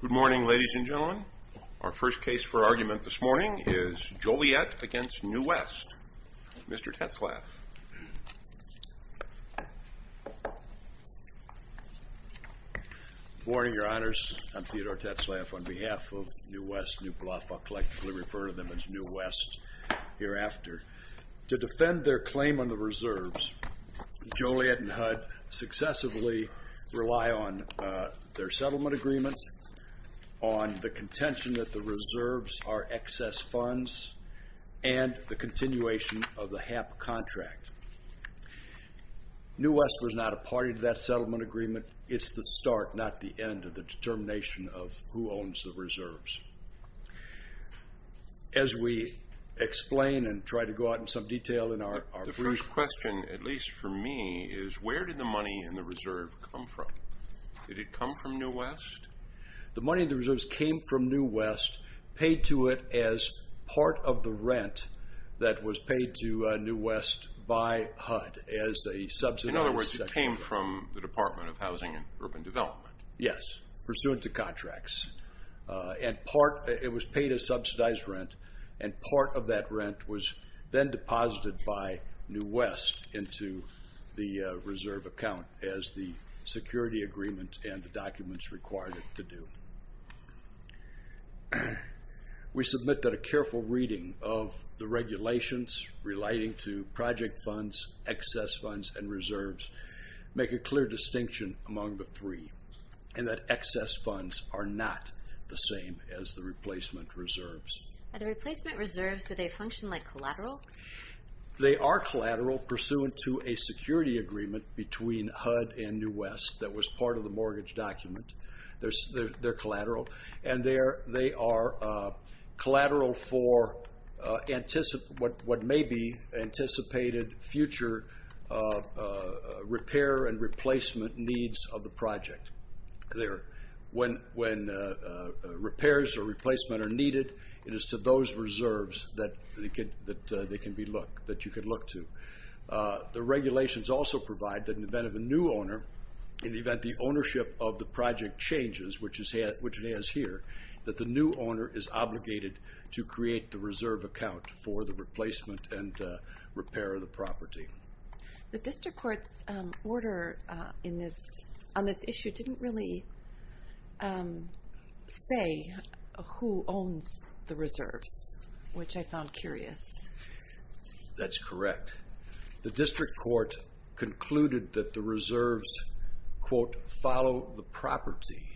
Good morning, ladies and gentlemen. Our first case for argument this morning is Joliet v. New West. Mr. Tetzlaff. Good morning, Your Honors. I'm Theodore Tetzlaff. On behalf of New West, New Bluff, I'll collectively refer to them as New West hereafter. To defend their claim on the reserves, Joliet and HUD successively rely on their settlement agreement, on the contention that the reserves are excess funds, and the continuation of the HAP contract. New West was not a party to that settlement agreement. It's the start, not the end, of the determination of who owns the reserves. As we explain and try to go out in some detail in our brief... The first question, at least for me, is where did the money in the reserve come from? Did it come from New West? The money in the reserves came from New West, paid to it as part of the rent that was paid to New West by HUD as a subsidy. In other words, it came from the Department of Housing and Urban Development. Yes, pursuant to contracts. It was paid as subsidized rent, and part of that rent was then deposited by New West into the reserve account as the security agreement and the documents required it to do. We submit that a careful reading of the regulations relating to project funds, excess funds, and reserves make a clear distinction among the three, and that excess funds are not the same as the replacement reserves. Are the replacement reserves, do they function like collateral? They are collateral pursuant to a security agreement between HUD and New West that was part of the mortgage document. They're collateral, and they are collateral for what may be anticipated future repair and replacement needs of the project. When repairs or replacement are needed, it is to those reserves that they can be looked, that you can look to. The regulations also provide that in the event of a new owner, in the event the ownership of the project changes, which it has here, that the new owner is obligated to create the reserve account for the replacement and repair of the property. The district court's order on this issue didn't really say who owns the reserves, which I found curious. That's correct. The district court concluded that the reserves, quote, follow the property,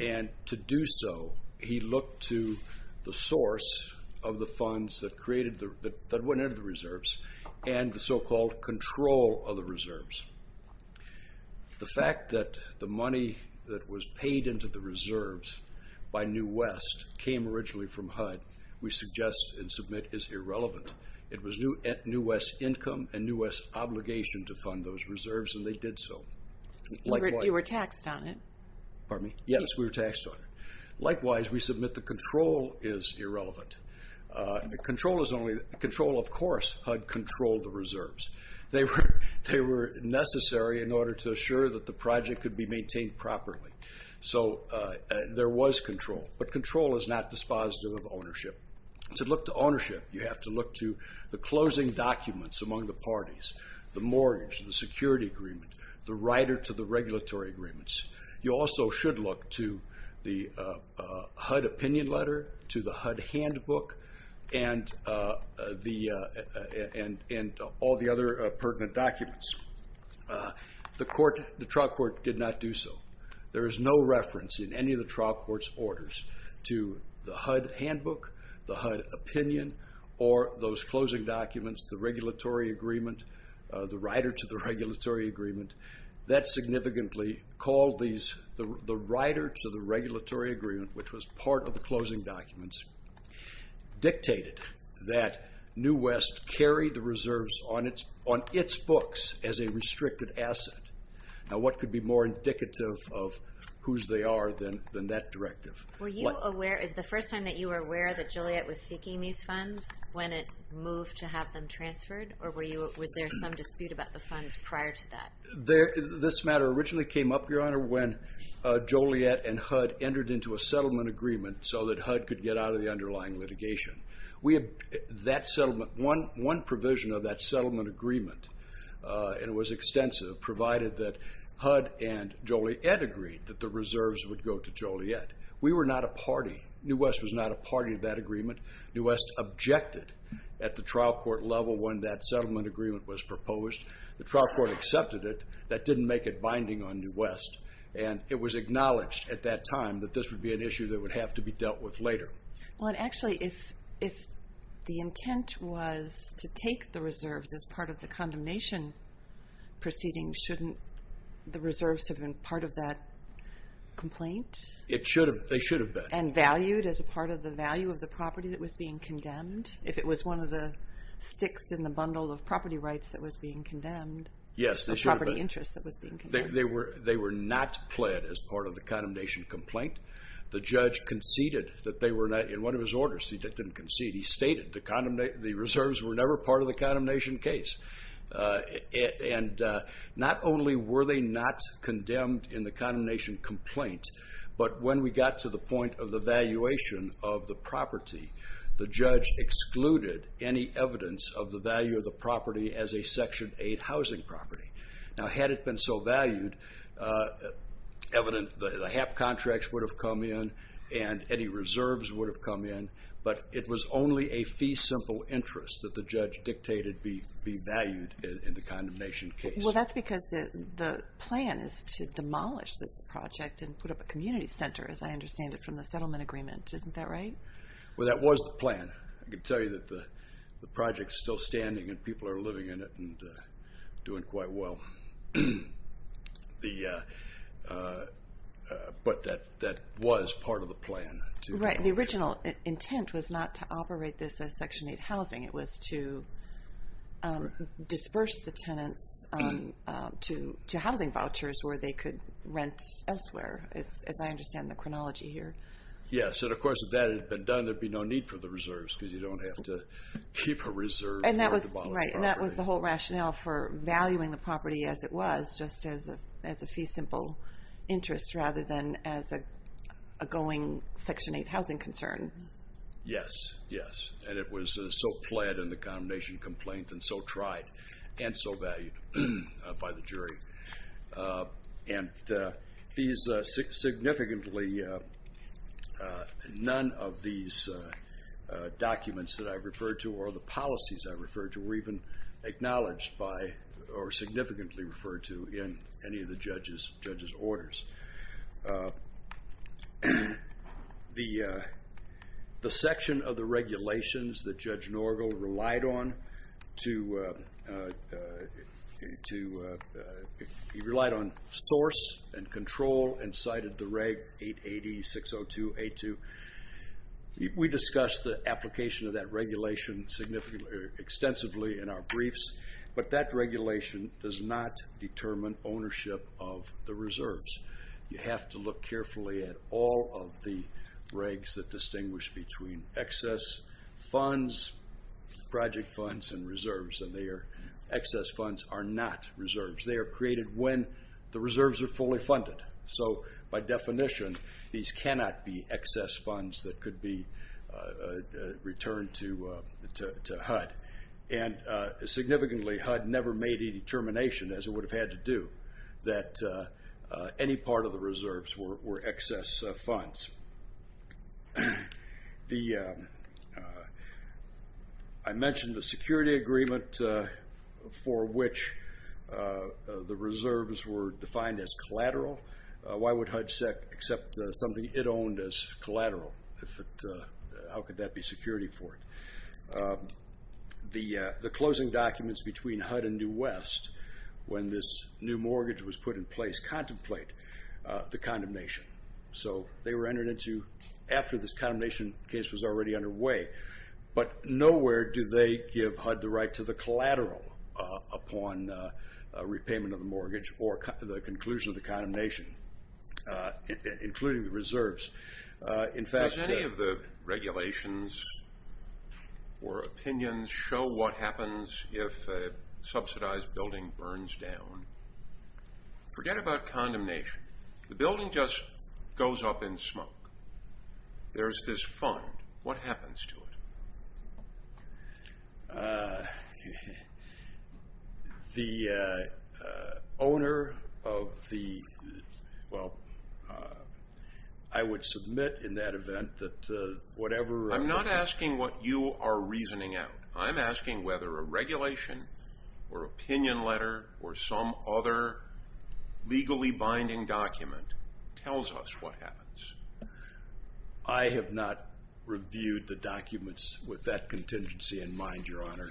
and to do so, he looked to the source of the funds that went into the reserves and the so-called control of the reserves. The fact that the money that was paid into the reserves by New West came originally from HUD, we suggest and submit is irrelevant. It was New West's income and New West's obligation to fund those reserves, and they did so. You were taxed on it. Pardon me? Yes, we were taxed on it. Likewise, we submit the control is irrelevant. Control, of course, HUD controlled the reserves. They were necessary in order to assure that the project could be maintained properly, so there was control, but control is not dispositive of ownership. To look to ownership, you have to look to the closing documents among the parties, the mortgage, the security agreement, the rider to the regulatory agreements. You also should look to the HUD opinion letter, to the HUD handbook, and all the other pertinent documents. The trial court did not do so. There is no reference in any of the trial court's orders to the HUD handbook, the HUD opinion, or those closing documents, the regulatory agreement, the rider to the regulatory agreement. That significantly called the rider to the regulatory agreement, which was part of the closing documents, dictated that New West carry the reserves on its books as a restricted asset. Now, what could be more indicative of whose they are than that directive? Is the first time that you were aware that Joliet was seeking these funds when it moved to have them transferred, or was there some dispute about the funds prior to that? This matter originally came up, Your Honor, when Joliet and HUD entered into a settlement agreement so that HUD could get out of the underlying litigation. One provision of that settlement agreement, and it was extensive, provided that HUD and Joliet agreed that the reserves would go to Joliet. We were not a party. New West was not a party to that agreement. New West objected at the trial court level when that settlement agreement was proposed. The trial court accepted it. That didn't make it binding on New West. And it was acknowledged at that time that this would be an issue that would have to be dealt with later. Well, actually, if the intent was to take the reserves as part of the condemnation proceedings, shouldn't the reserves have been part of that complaint? They should have been. And valued as a part of the value of the property that was being condemned? If it was one of the sticks in the bundle of property rights that was being condemned, the property interests that was being condemned? They were not pled as part of the condemnation complaint. The judge conceded that they were not. In one of his orders, he didn't concede. He stated the reserves were never part of the condemnation case. And not only were they not condemned in the condemnation complaint, but when we got to the point of the valuation of the property, the judge excluded any evidence of the value of the property as a Section 8 housing property. Now, had it been so valued, the HAP contracts would have come in and any reserves would have come in. But it was only a fee-simple interest that the judge dictated be valued in the condemnation case. Well, that's because the plan is to demolish this project and put up a community center, as I understand it, from the settlement agreement. Isn't that right? Well, that was the plan. I can tell you that the project is still standing and people are living in it and doing quite well. But that was part of the plan. Right. The original intent was not to operate this as Section 8 housing. It was to disperse the tenants to housing vouchers where they could rent elsewhere, as I understand the chronology here. Yes. And, of course, if that had been done, there'd be no need for the reserves because you don't have to keep a reserve. And that was the whole rationale for valuing the property as it was, just as a fee-simple interest, rather than as a going Section 8 housing concern. Yes. Yes. And it was so pled in the condemnation complaint and so tried and so valued by the jury. And none of these documents that I've referred to or the policies I've referred to were even acknowledged by or significantly referred to in any of the judges' orders. The section of the regulations that Judge Norgal relied on, he relied on source and control and cited the Reg. 880-602-82. We discussed the application of that regulation extensively in our briefs, but that regulation does not determine ownership of the reserves. You have to look carefully at all of the regs that distinguish between excess funds, project funds, and reserves, and their excess funds are not reserves. They are created when the reserves are fully funded. So, by definition, these cannot be excess funds that could be returned to HUD. And, significantly, HUD never made any determination, as it would have had to do, that any part of the reserves were excess funds. I mentioned the security agreement for which the reserves were defined as collateral. Why would HUD accept something it owned as collateral? How could that be security for it? The closing documents between HUD and New West, when this new mortgage was put in place, contemplate the condemnation. So, they were entered into after this condemnation case was already underway. But nowhere do they give HUD the right to the collateral upon repayment of the mortgage or the conclusion of the condemnation, including the reserves. Does any of the regulations or opinions show what happens if a subsidized building burns down? Forget about condemnation. The building just goes up in smoke. There's this fund. What happens to it? The owner of the, well, I would submit in that event that whatever... I'm not asking what you are reasoning out. I'm asking whether a regulation or opinion letter or some other legally binding document tells us what happens. I have not reviewed the documents with that contingency in mind, Your Honor.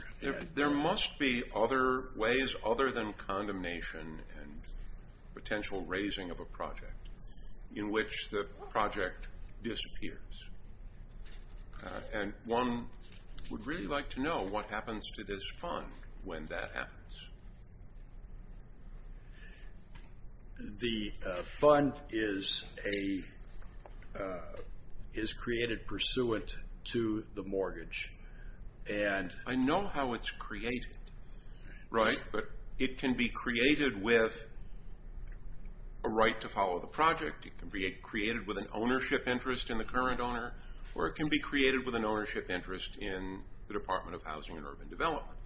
There must be other ways other than condemnation and potential raising of a project in which the project disappears. And one would really like to know what happens to this fund when that happens. The fund is created pursuant to the mortgage. I know how it's created, right? But it can be created with a right to follow the project. It can be created with an ownership interest in the current owner, or it can be created with an ownership interest in the Department of Housing and Urban Development.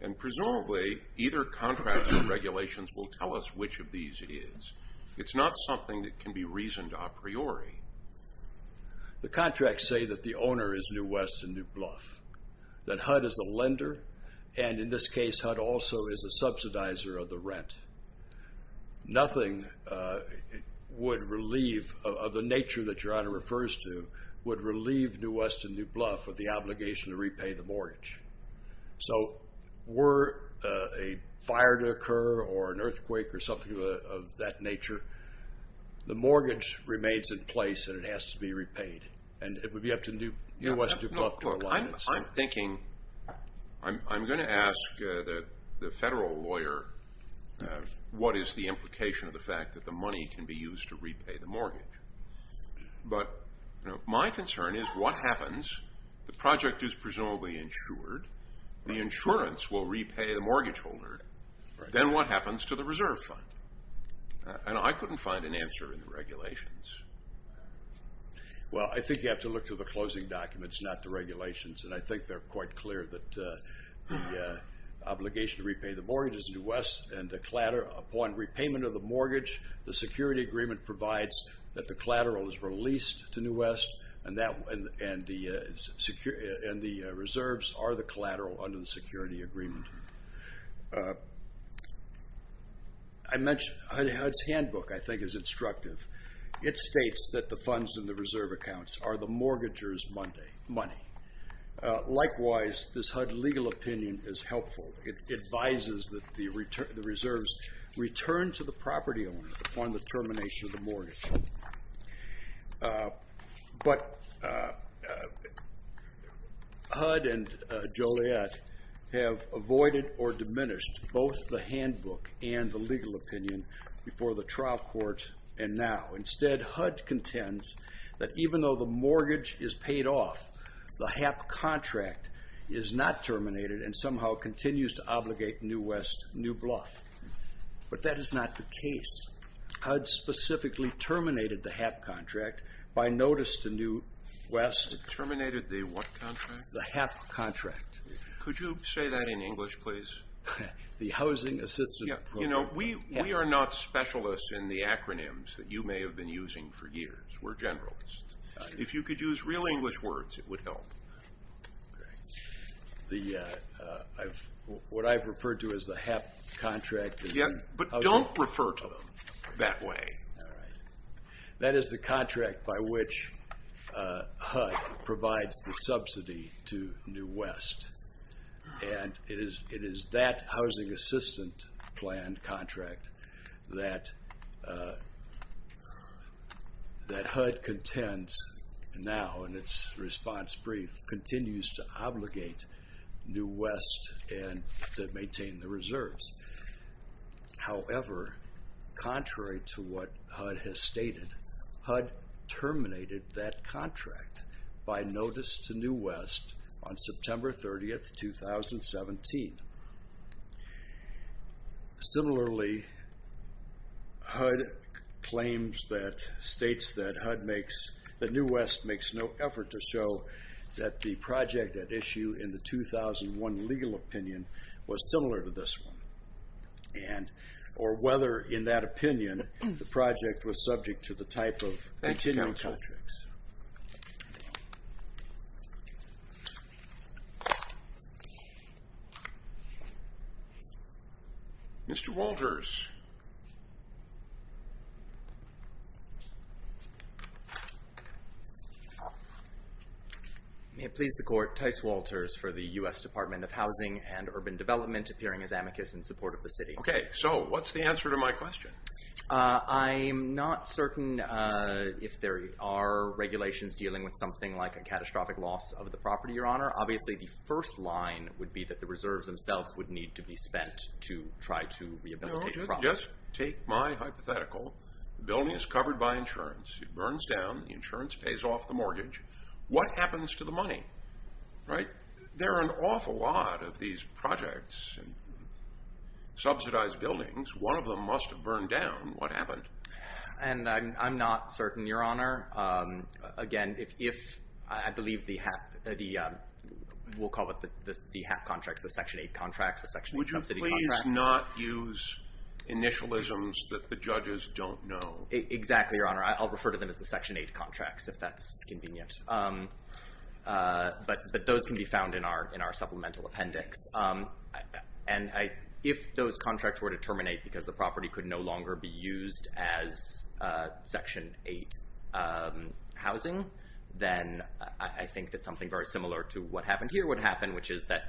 And presumably, either contract or regulations will tell us which of these it is. It's not something that can be reasoned a priori. The contracts say that the owner is New West and New Bluff, that HUD is the lender, and in this case, HUD also is the subsidizer of the rent. Nothing would relieve, of the nature that Your Honor refers to, would relieve New West and New Bluff of the obligation to repay the mortgage. So were a fire to occur or an earthquake or something of that nature, the mortgage remains in place and it has to be repaid. I'm thinking, I'm going to ask the federal lawyer what is the implication of the fact that the money can be used to repay the mortgage. But my concern is what happens, the project is presumably insured, the insurance will repay the mortgage holder. Then what happens to the reserve fund? And I couldn't find an answer in the regulations. Well, I think you have to look to the closing documents, not the regulations. And I think they're quite clear that the obligation to repay the mortgage is New West and upon repayment of the mortgage, the security agreement provides that the collateral is released to New West and the reserves are the collateral under the security agreement. I mentioned, HUD's handbook I think is instructive. It states that the funds in the reserve accounts are the mortgager's money. Likewise, this HUD legal opinion is helpful. It advises that the reserves return to the property owner upon the termination of the mortgage. But HUD and Joliet have avoided or diminished both the handbook and the legal opinion before the trial court and now. Instead, HUD contends that even though the mortgage is paid off, the HAP contract is not terminated and somehow continues to obligate New West New Bluff. But that is not the case. HUD specifically terminated the HAP contract by notice to New West. Terminated the what contract? The HAP contract. Could you say that in English, please? The Housing Assistance Program. We are not specialists in the acronyms that you may have been using for years. We're generalists. If you could use real English words, it would help. What I've referred to as the HAP contract. Yeah, but don't refer to them that way. All right. That is the contract by which HUD provides the subsidy to New West. And it is that housing assistant plan contract that HUD contends now in its response brief continues to obligate New West to maintain the reserves. However, contrary to what HUD has stated, HUD terminated that contract by notice to New West on September 30th, 2017. Similarly, HUD claims that states that HUD makes, that New West makes no effort to show that the project at issue in the 2001 legal opinion was similar to this one. And, or whether in that opinion, the project was subject to the type of continuing contracts. Mr. Walters. May it please the court, Tice Walters for the U.S. Department of Housing and Urban Development, appearing as amicus in support of the city. Okay. So what's the answer to my question? I'm not certain if there are regulations dealing with something like a catastrophic loss of the property, Your Honor. Obviously, the first line would be that the reserves themselves would need to be spent to try to rehabilitate the property. Just take my hypothetical. The building is covered by insurance. It burns down. The insurance pays off the mortgage. What happens to the money, right? There are an awful lot of these projects and subsidized buildings. One of them must have burned down. What happened? And I'm not certain, Your Honor. Again, if, I believe the HAP, we'll call it the HAP contracts, the Section 8 contracts, the Section 8 subsidy contracts. Would you please not use initialisms that the judges don't know? Exactly, Your Honor. I'll refer to them as the Section 8 contracts, if that's convenient. But those can be found in our supplemental appendix. And if those contracts were to terminate because the property could no longer be used as Section 8 housing, then I think that something very similar to what happened here would happen, which is that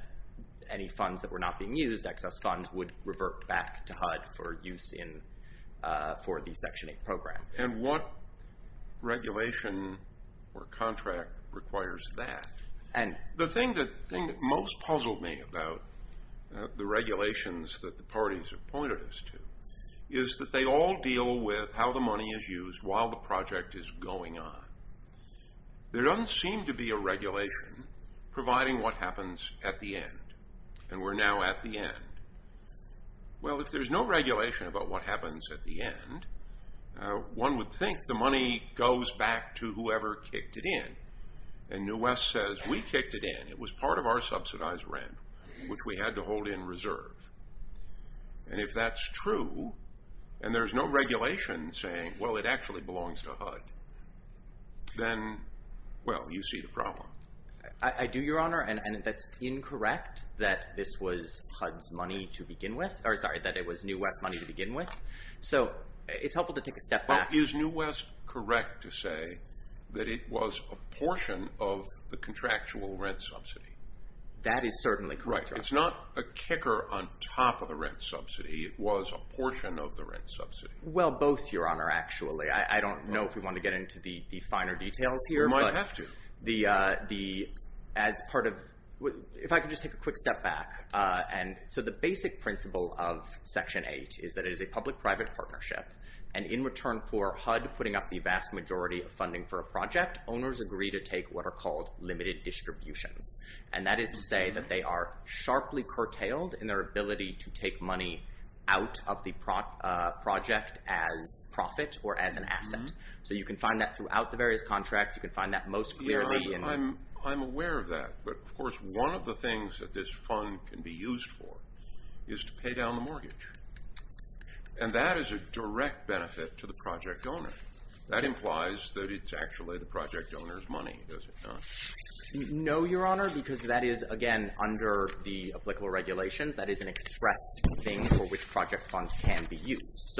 any funds that were not being used, excess funds, would revert back to HUD for use for the Section 8 program. And what regulation or contract requires that? And the thing that most puzzled me about the regulations that the parties have pointed us to is that they all deal with how the money is used while the project is going on. There doesn't seem to be a regulation providing what happens at the end. And we're now at the end. Well, if there's no regulation about what happens at the end, one would think the money goes back to whoever kicked it in. And New West says, we kicked it in. It was part of our subsidized rent, which we had to hold in reserve. And if that's true, and there's no regulation saying, well, it actually belongs to HUD, then, well, you see the problem. I do, Your Honor, and that's incorrect that this was HUD's money to begin with. Or, sorry, that it was New West money to begin with. So it's helpful to take a step back. Is New West correct to say that it was a portion of the contractual rent subsidy? That is certainly correct, Your Honor. Right. It's not a kicker on top of the rent subsidy. It was a portion of the rent subsidy. Well, both, Your Honor, actually. I don't know if we want to get into the finer details here. We might have to. If I could just take a quick step back. So the basic principle of Section 8 is that it is a public-private partnership. And in return for HUD putting up the vast majority of funding for a project, owners agree to take what are called limited distributions. And that is to say that they are sharply curtailed in their ability to take money out of the project as profit or as an asset. So you can find that throughout the various contracts. You can find that most clearly. I'm aware of that. But, of course, one of the things that this fund can be used for is to pay down the mortgage. And that is a direct benefit to the project owner. That implies that it's actually the project owner's money, does it not? No, Your Honor, because that is, again, under the applicable regulation. That is an express thing for which project funds can be used.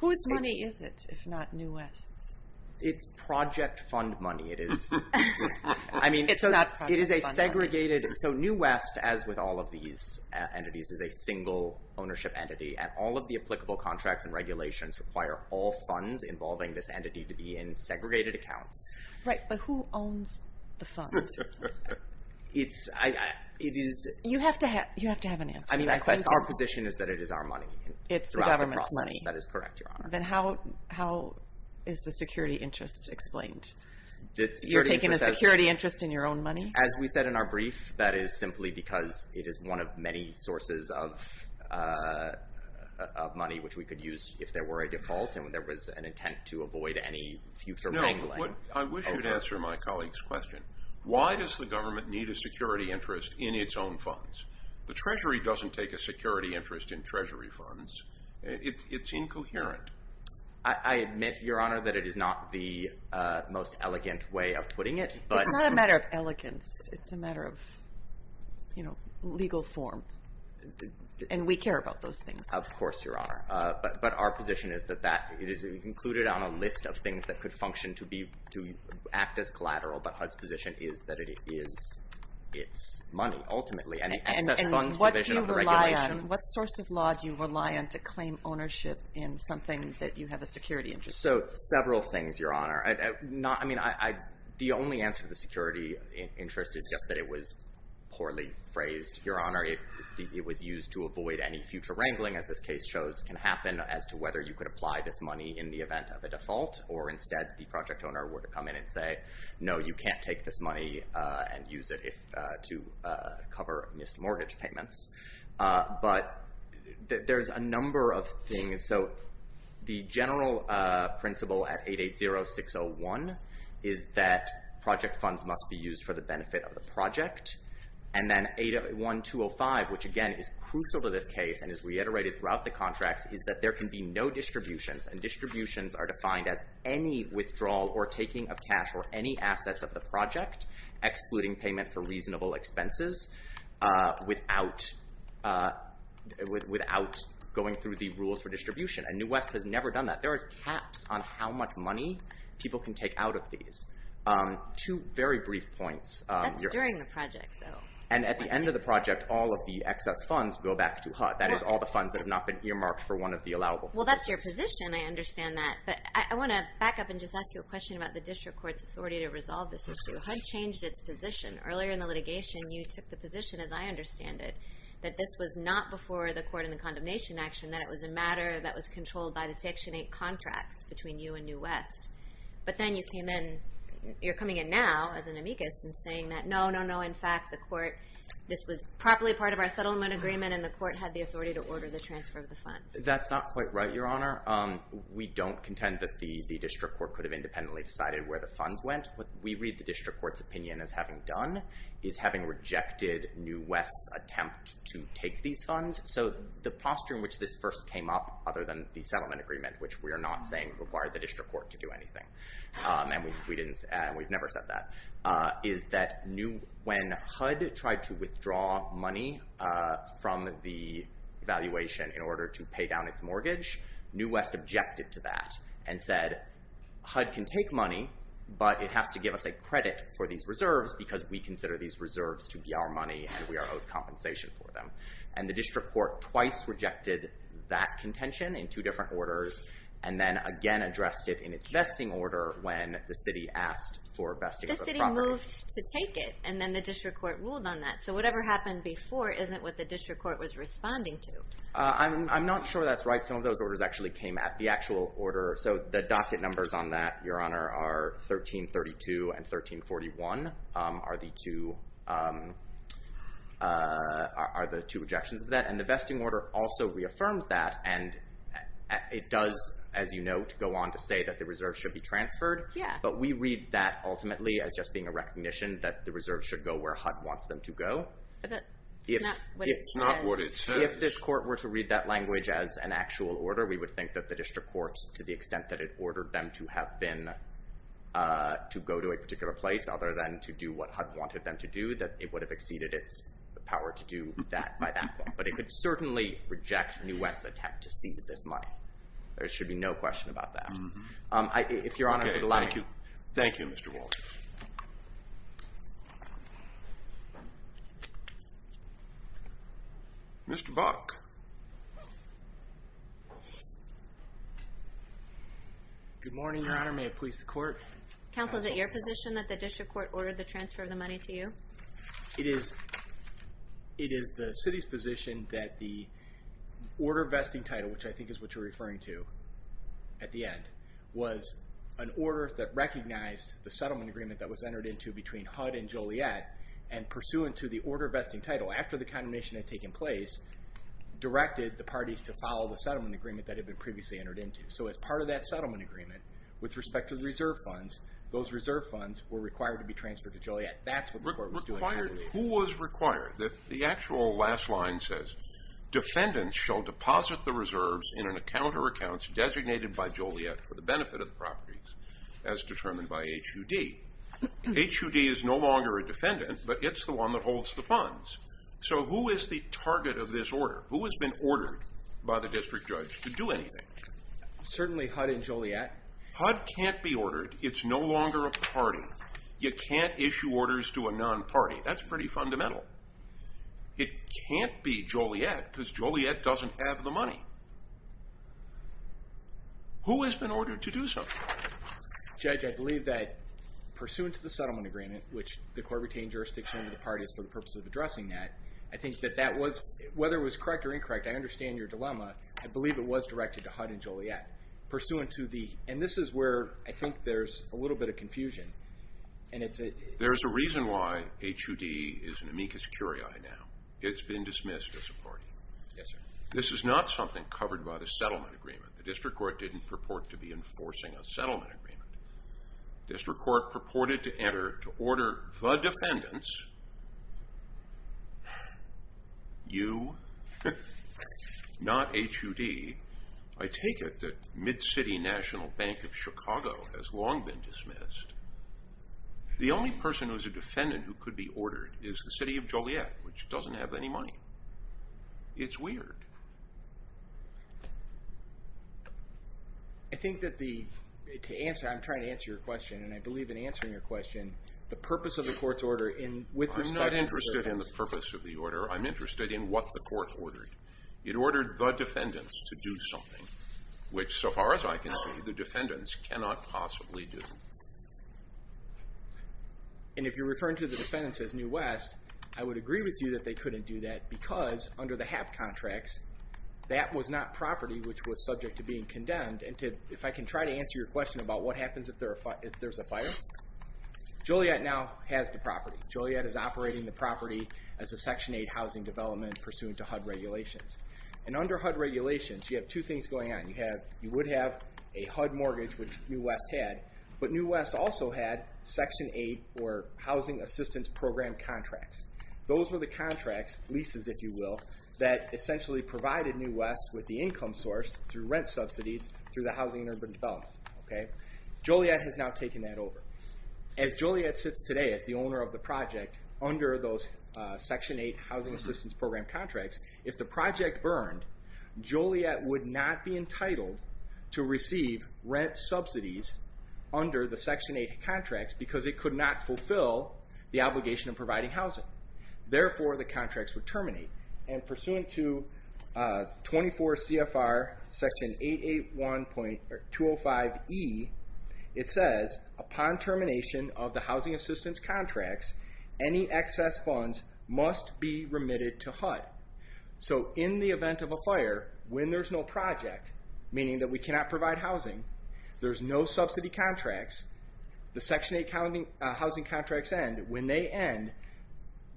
Whose money is it, if not New West's? It's project fund money. I mean, it is a segregated. So New West, as with all of these entities, is a single ownership entity. And all of the applicable contracts and regulations require all funds involving this entity to be in segregated accounts. Right, but who owns the fund? You have to have an answer. I mean, our position is that it is our money. It's the government's money. That is correct, Your Honor. Then how is the security interest explained? You're taking a security interest in your own money? As we said in our brief, that is simply because it is one of many sources of money which we could use if there were a default and there was an intent to avoid any future wrangling. No, I wish you'd answer my colleague's question. Why does the government need a security interest in its own funds? The Treasury doesn't take a security interest in Treasury funds. It's incoherent. I admit, Your Honor, that it is not the most elegant way of putting it. It's not a matter of elegance. It's a matter of legal form. And we care about those things. Of course, Your Honor. But our position is that it is included on a list of things that could function to act as collateral. But HUD's position is that it is its money, ultimately. And the excess funds provision of the regulation— So several things, Your Honor. I mean, the only answer to the security interest is just that it was poorly phrased. Your Honor, it was used to avoid any future wrangling, as this case shows, can happen as to whether you could apply this money in the event of a default, or instead the project owner were to come in and say, no, you can't take this money and use it to cover missed mortgage payments. But there's a number of things. So the general principle at 880-601 is that project funds must be used for the benefit of the project. And then 801-205, which, again, is crucial to this case and is reiterated throughout the contracts, is that there can be no distributions. And distributions are defined as any withdrawal or taking of cash or any assets of the project, excluding payment for reasonable expenses, without going through the rules for distribution. And New West has never done that. There is caps on how much money people can take out of these. Two very brief points. That's during the project, though. And at the end of the project, all of the excess funds go back to HUD. That is, all the funds that have not been earmarked for one of the allowable purposes. Well, that's your position. I understand that. But I want to back up and just ask you a question about the district court's authority to resolve this issue. HUD changed its position. Earlier in the litigation, you took the position, as I understand it, that this was not before the court in the condemnation action, that it was a matter that was controlled by the Section 8 contracts between you and New West. But then you came in. You're coming in now as an amicus and saying that, no, no, no. In fact, this was properly part of our settlement agreement, and the court had the authority to order the transfer of the funds. That's not quite right, Your Honor. We don't contend that the district court could have independently decided where the funds went. What we read the district court's opinion as having done is having rejected New West's attempt to take these funds. So the posture in which this first came up, other than the settlement agreement, which we are not saying required the district court to do anything, and we've never said that, is that when HUD tried to withdraw money from the valuation in order to pay down its mortgage, New West objected to that and said, HUD can take money, but it has to give us a credit for these reserves because we consider these reserves to be our money and we are owed compensation for them. And the district court twice rejected that contention in two different orders and then again addressed it in its vesting order when the city asked for vesting of the property. The city moved to take it, and then the district court ruled on that. So whatever happened before isn't what the district court was responding to. I'm not sure that's right. Some of those orders actually came at the actual order. So the docket numbers on that, Your Honor, are 1332 and 1341 are the two objections to that. And the vesting order also reaffirms that, and it does, as you know, go on to say that the reserves should be transferred. Yeah. But we read that ultimately as just being a recognition that the reserves should go where HUD wants them to go. But that's not what it says. If this court were to read that language as an actual order, we would think that the district court, to the extent that it ordered them to have been to go to a particular place other than to do what HUD wanted them to do, that it would have exceeded its power to do that by that point. But it would certainly reject New West's attempt to seize this money. There should be no question about that. If Your Honor would allow me. Thank you. Thank you, Mr. Walter. Mr. Buck. Good morning, Your Honor. May it please the court. Counsel, is it your position that the district court ordered the transfer of the money to you? It is the city's position that the order vesting title, which I think is what you're referring to at the end, was an order that recognized the settlement agreement that was entered into between HUD and Joliet, and pursuant to the order vesting title, after the condemnation had taken place, directed the parties to follow the settlement agreement that had been previously entered into. So as part of that settlement agreement, with respect to the reserve funds, those reserve funds were required to be transferred to Joliet. That's what the court was doing. Who was required? The actual last line says, Defendants shall deposit the reserves in an account or accounts designated by Joliet for the benefit of the properties, as determined by HUD. HUD. HUD is no longer a defendant, but it's the one that holds the funds. So who is the target of this order? Who has been ordered by the district judge to do anything? Certainly HUD and Joliet. HUD can't be ordered. It's no longer a party. You can't issue orders to a non-party. That's pretty fundamental. It can't be Joliet because Joliet doesn't have the money. Who has been ordered to do something? Judge, I believe that pursuant to the settlement agreement, which the court retained jurisdiction over the parties for the purpose of addressing that, I think that that was, whether it was correct or incorrect, I understand your dilemma. I believe it was directed to HUD and Joliet. Pursuant to the, and this is where I think there's a little bit of confusion. There's a reason why HUD is an amicus curiae now. It's been dismissed as a party. Yes, sir. This is not something covered by the settlement agreement. The district court didn't purport to be enforcing a settlement agreement. District court purported to order the defendants, you, not HUD. I take it that Mid-City National Bank of Chicago has long been dismissed. The only person who is a defendant who could be ordered is the city of Joliet, which doesn't have any money. It's weird. I think that the, to answer, I'm trying to answer your question, and I believe in answering your question, the purpose of the court's order in, with respect to the court's order. I'm not interested in the purpose of the order. I'm interested in what the court ordered. It ordered the defendants to do something, which so far as I can see the defendants cannot possibly do. And if you're referring to the defendants as New West, I would agree with you that they couldn't do that because under the HAP contracts that was not property which was subject to being condemned. And if I can try to answer your question about what happens if there's a fire, Joliet now has the property. Joliet is operating the property as a Section 8 housing development pursuant to HUD regulations. And under HUD regulations you have two things going on. You would have a HUD mortgage, which New West had, but New West also had Section 8 or Housing Assistance Program contracts. Those were the contracts, leases if you will, that essentially provided New West with the income source through rent subsidies through the Housing and Urban Development, okay? Joliet has now taken that over. As Joliet sits today as the owner of the project under those Section 8 Housing Assistance Program contracts, if the project burned, Joliet would not be entitled to receive rent subsidies under the Section 8 contracts because it could not fulfill the obligation of providing housing. Therefore, the contracts would terminate. And pursuant to 24 CFR Section 881.205E, it says, upon termination of the Housing Assistance contracts, any excess funds must be remitted to HUD. So in the event of a fire, when there's no project, meaning that we cannot provide housing, there's no subsidy contracts, the Section 8 housing contracts end, when they end,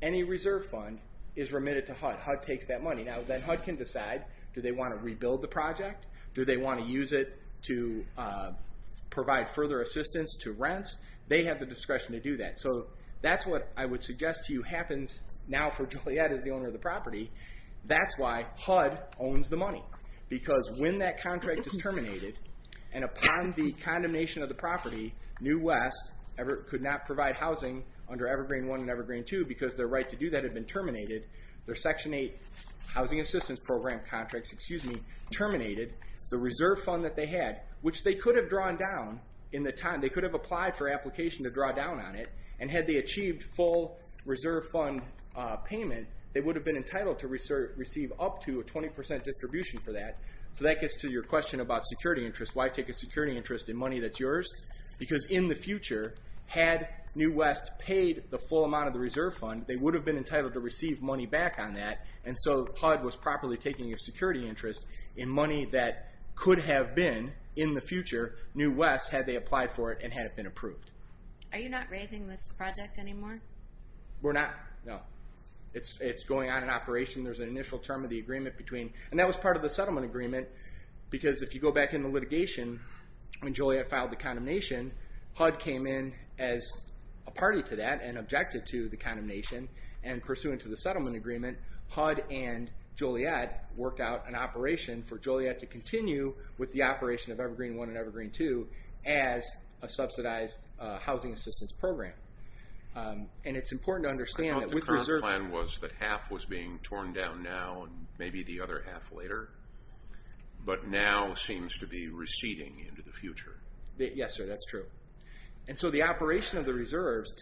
any reserve fund is remitted to HUD. HUD takes that money. Now then HUD can decide, do they want to rebuild the project? Do they want to use it to provide further assistance to rents? They have the discretion to do that. So that's what I would suggest to you happens now for Joliet as the owner of the property. That's why HUD owns the money. Because when that contract is terminated, and upon the condemnation of the property, New West could not provide housing under Evergreen I and Evergreen II because their right to do that had been terminated. Their Section 8 Housing Assistance Program contracts, excuse me, terminated the reserve fund that they had, which they could have drawn down in the time. They could have applied for application to draw down on it. And had they achieved full reserve fund payment, they would have been entitled to receive up to a 20% distribution for that. So that gets to your question about security interest. Why take a security interest in money that's yours? Because in the future, had New West paid the full amount of the reserve fund, they would have been entitled to receive money back on that. And so HUD was properly taking a security interest in money that could have been in the future, New West, had they applied for it and had it been approved. Are you not raising this project anymore? We're not, no. It's going on in operation. There's an initial term of the agreement between, and that was part of the settlement agreement, because if you go back in the litigation when Joliet filed the condemnation, HUD came in as a party to that and objected to the condemnation. And pursuant to the settlement agreement, HUD and Joliet worked out an operation for Joliet to continue with the operation of Evergreen I and Evergreen II as a subsidized housing assistance program. And it's important to understand that with reserve... I thought the current plan was that half was being torn down now and maybe the other half later, but now seems to be receding into the future. Yes, sir, that's true. And so the operation of the reserves,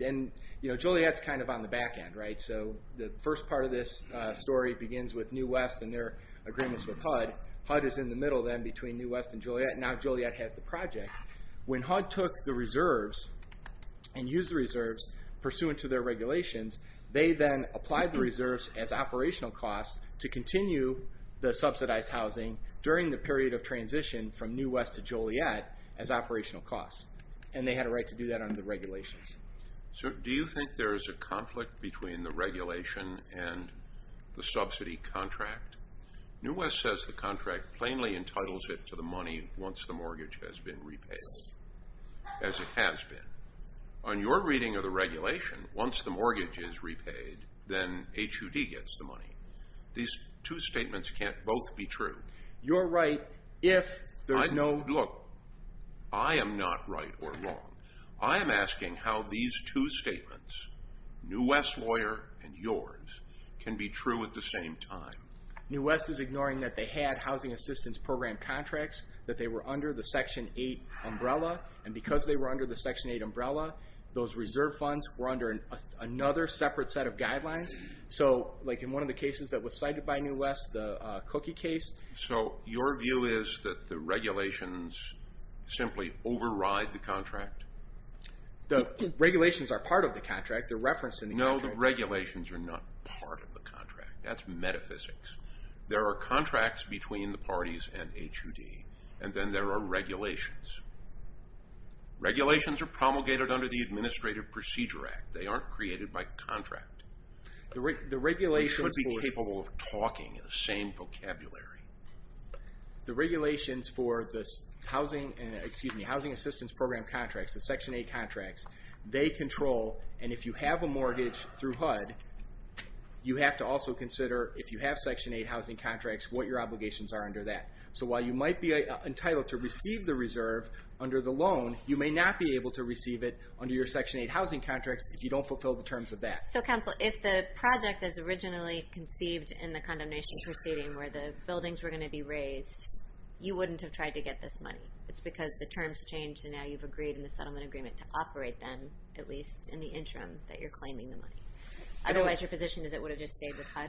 and Joliet's kind of on the back end, right? So the first part of this story begins with New West and their agreements with HUD. HUD is in the middle then between New West and Joliet, and now Joliet has the project. When HUD took the reserves and used the reserves, pursuant to their regulations, they then applied the reserves as operational costs to continue the subsidized housing during the period of transition from New West to Joliet as operational costs. And they had a right to do that under the regulations. Do you think there is a conflict between the regulation and the subsidy contract? New West says the contract plainly entitles it to the money once the mortgage has been repaid, as it has been. On your reading of the regulation, once the mortgage is repaid, then HUD gets the money. These two statements can't both be true. You're right if there's no... Look, I am not right or wrong. I am asking how these two statements, New West's lawyer and yours, can be true at the same time. New West is ignoring that they had housing assistance program contracts, that they were under the Section 8 umbrella. And because they were under the Section 8 umbrella, those reserve funds were under another separate set of guidelines. So like in one of the cases that was cited by New West, the cookie case... So your view is that the regulations simply override the contract? The regulations are part of the contract. They're referenced in the contract. No, the regulations are not part of the contract. That's metaphysics. There are contracts between the parties and HUD, and then there are regulations. Regulations are promulgated under the Administrative Procedure Act. They aren't created by contract. We should be capable of talking in the same vocabulary. The regulations for the housing assistance program contracts, the Section 8 contracts, they control. And if you have a mortgage through HUD, you have to also consider if you have Section 8 housing contracts, what your obligations are under that. So while you might be entitled to receive the reserve under the loan, you may not be able to receive it under your Section 8 housing contracts if you don't fulfill the terms of that. So, counsel, if the project is originally conceived in the condemnation proceeding where the buildings were going to be raised, you wouldn't have tried to get this money. It's because the terms changed, and now you've agreed in the settlement agreement to operate them, at least in the interim, that you're claiming the money. Otherwise your position is it would have just stayed with HUD?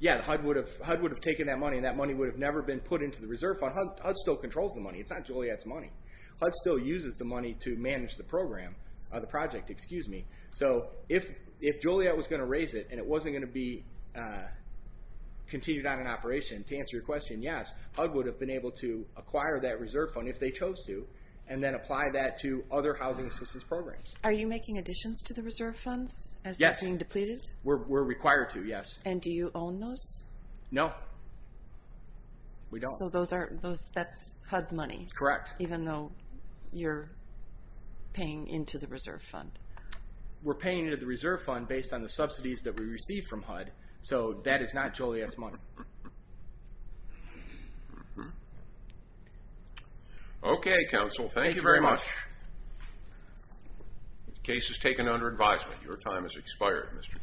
Yeah, HUD would have taken that money, and that money would have never been put into the reserve fund. HUD still controls the money. It's not Joliet's money. HUD still uses the money to manage the program, the project, excuse me. So if Joliet was going to raise it, and it wasn't going to be continued on in operation, to answer your question, yes, HUD would have been able to acquire that reserve fund if they chose to, and then apply that to other housing assistance programs. Are you making additions to the reserve funds as they're being depleted? Yes, we're required to, yes. And do you own those? No, we don't. So that's HUD's money? Correct. Even though you're paying into the reserve fund? We're paying into the reserve fund based on the subsidies that we receive from HUD, so that is not Joliet's money. Okay, counsel, thank you very much. The case is taken under advisement. Your time has expired, Mr.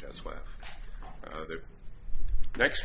Teslav.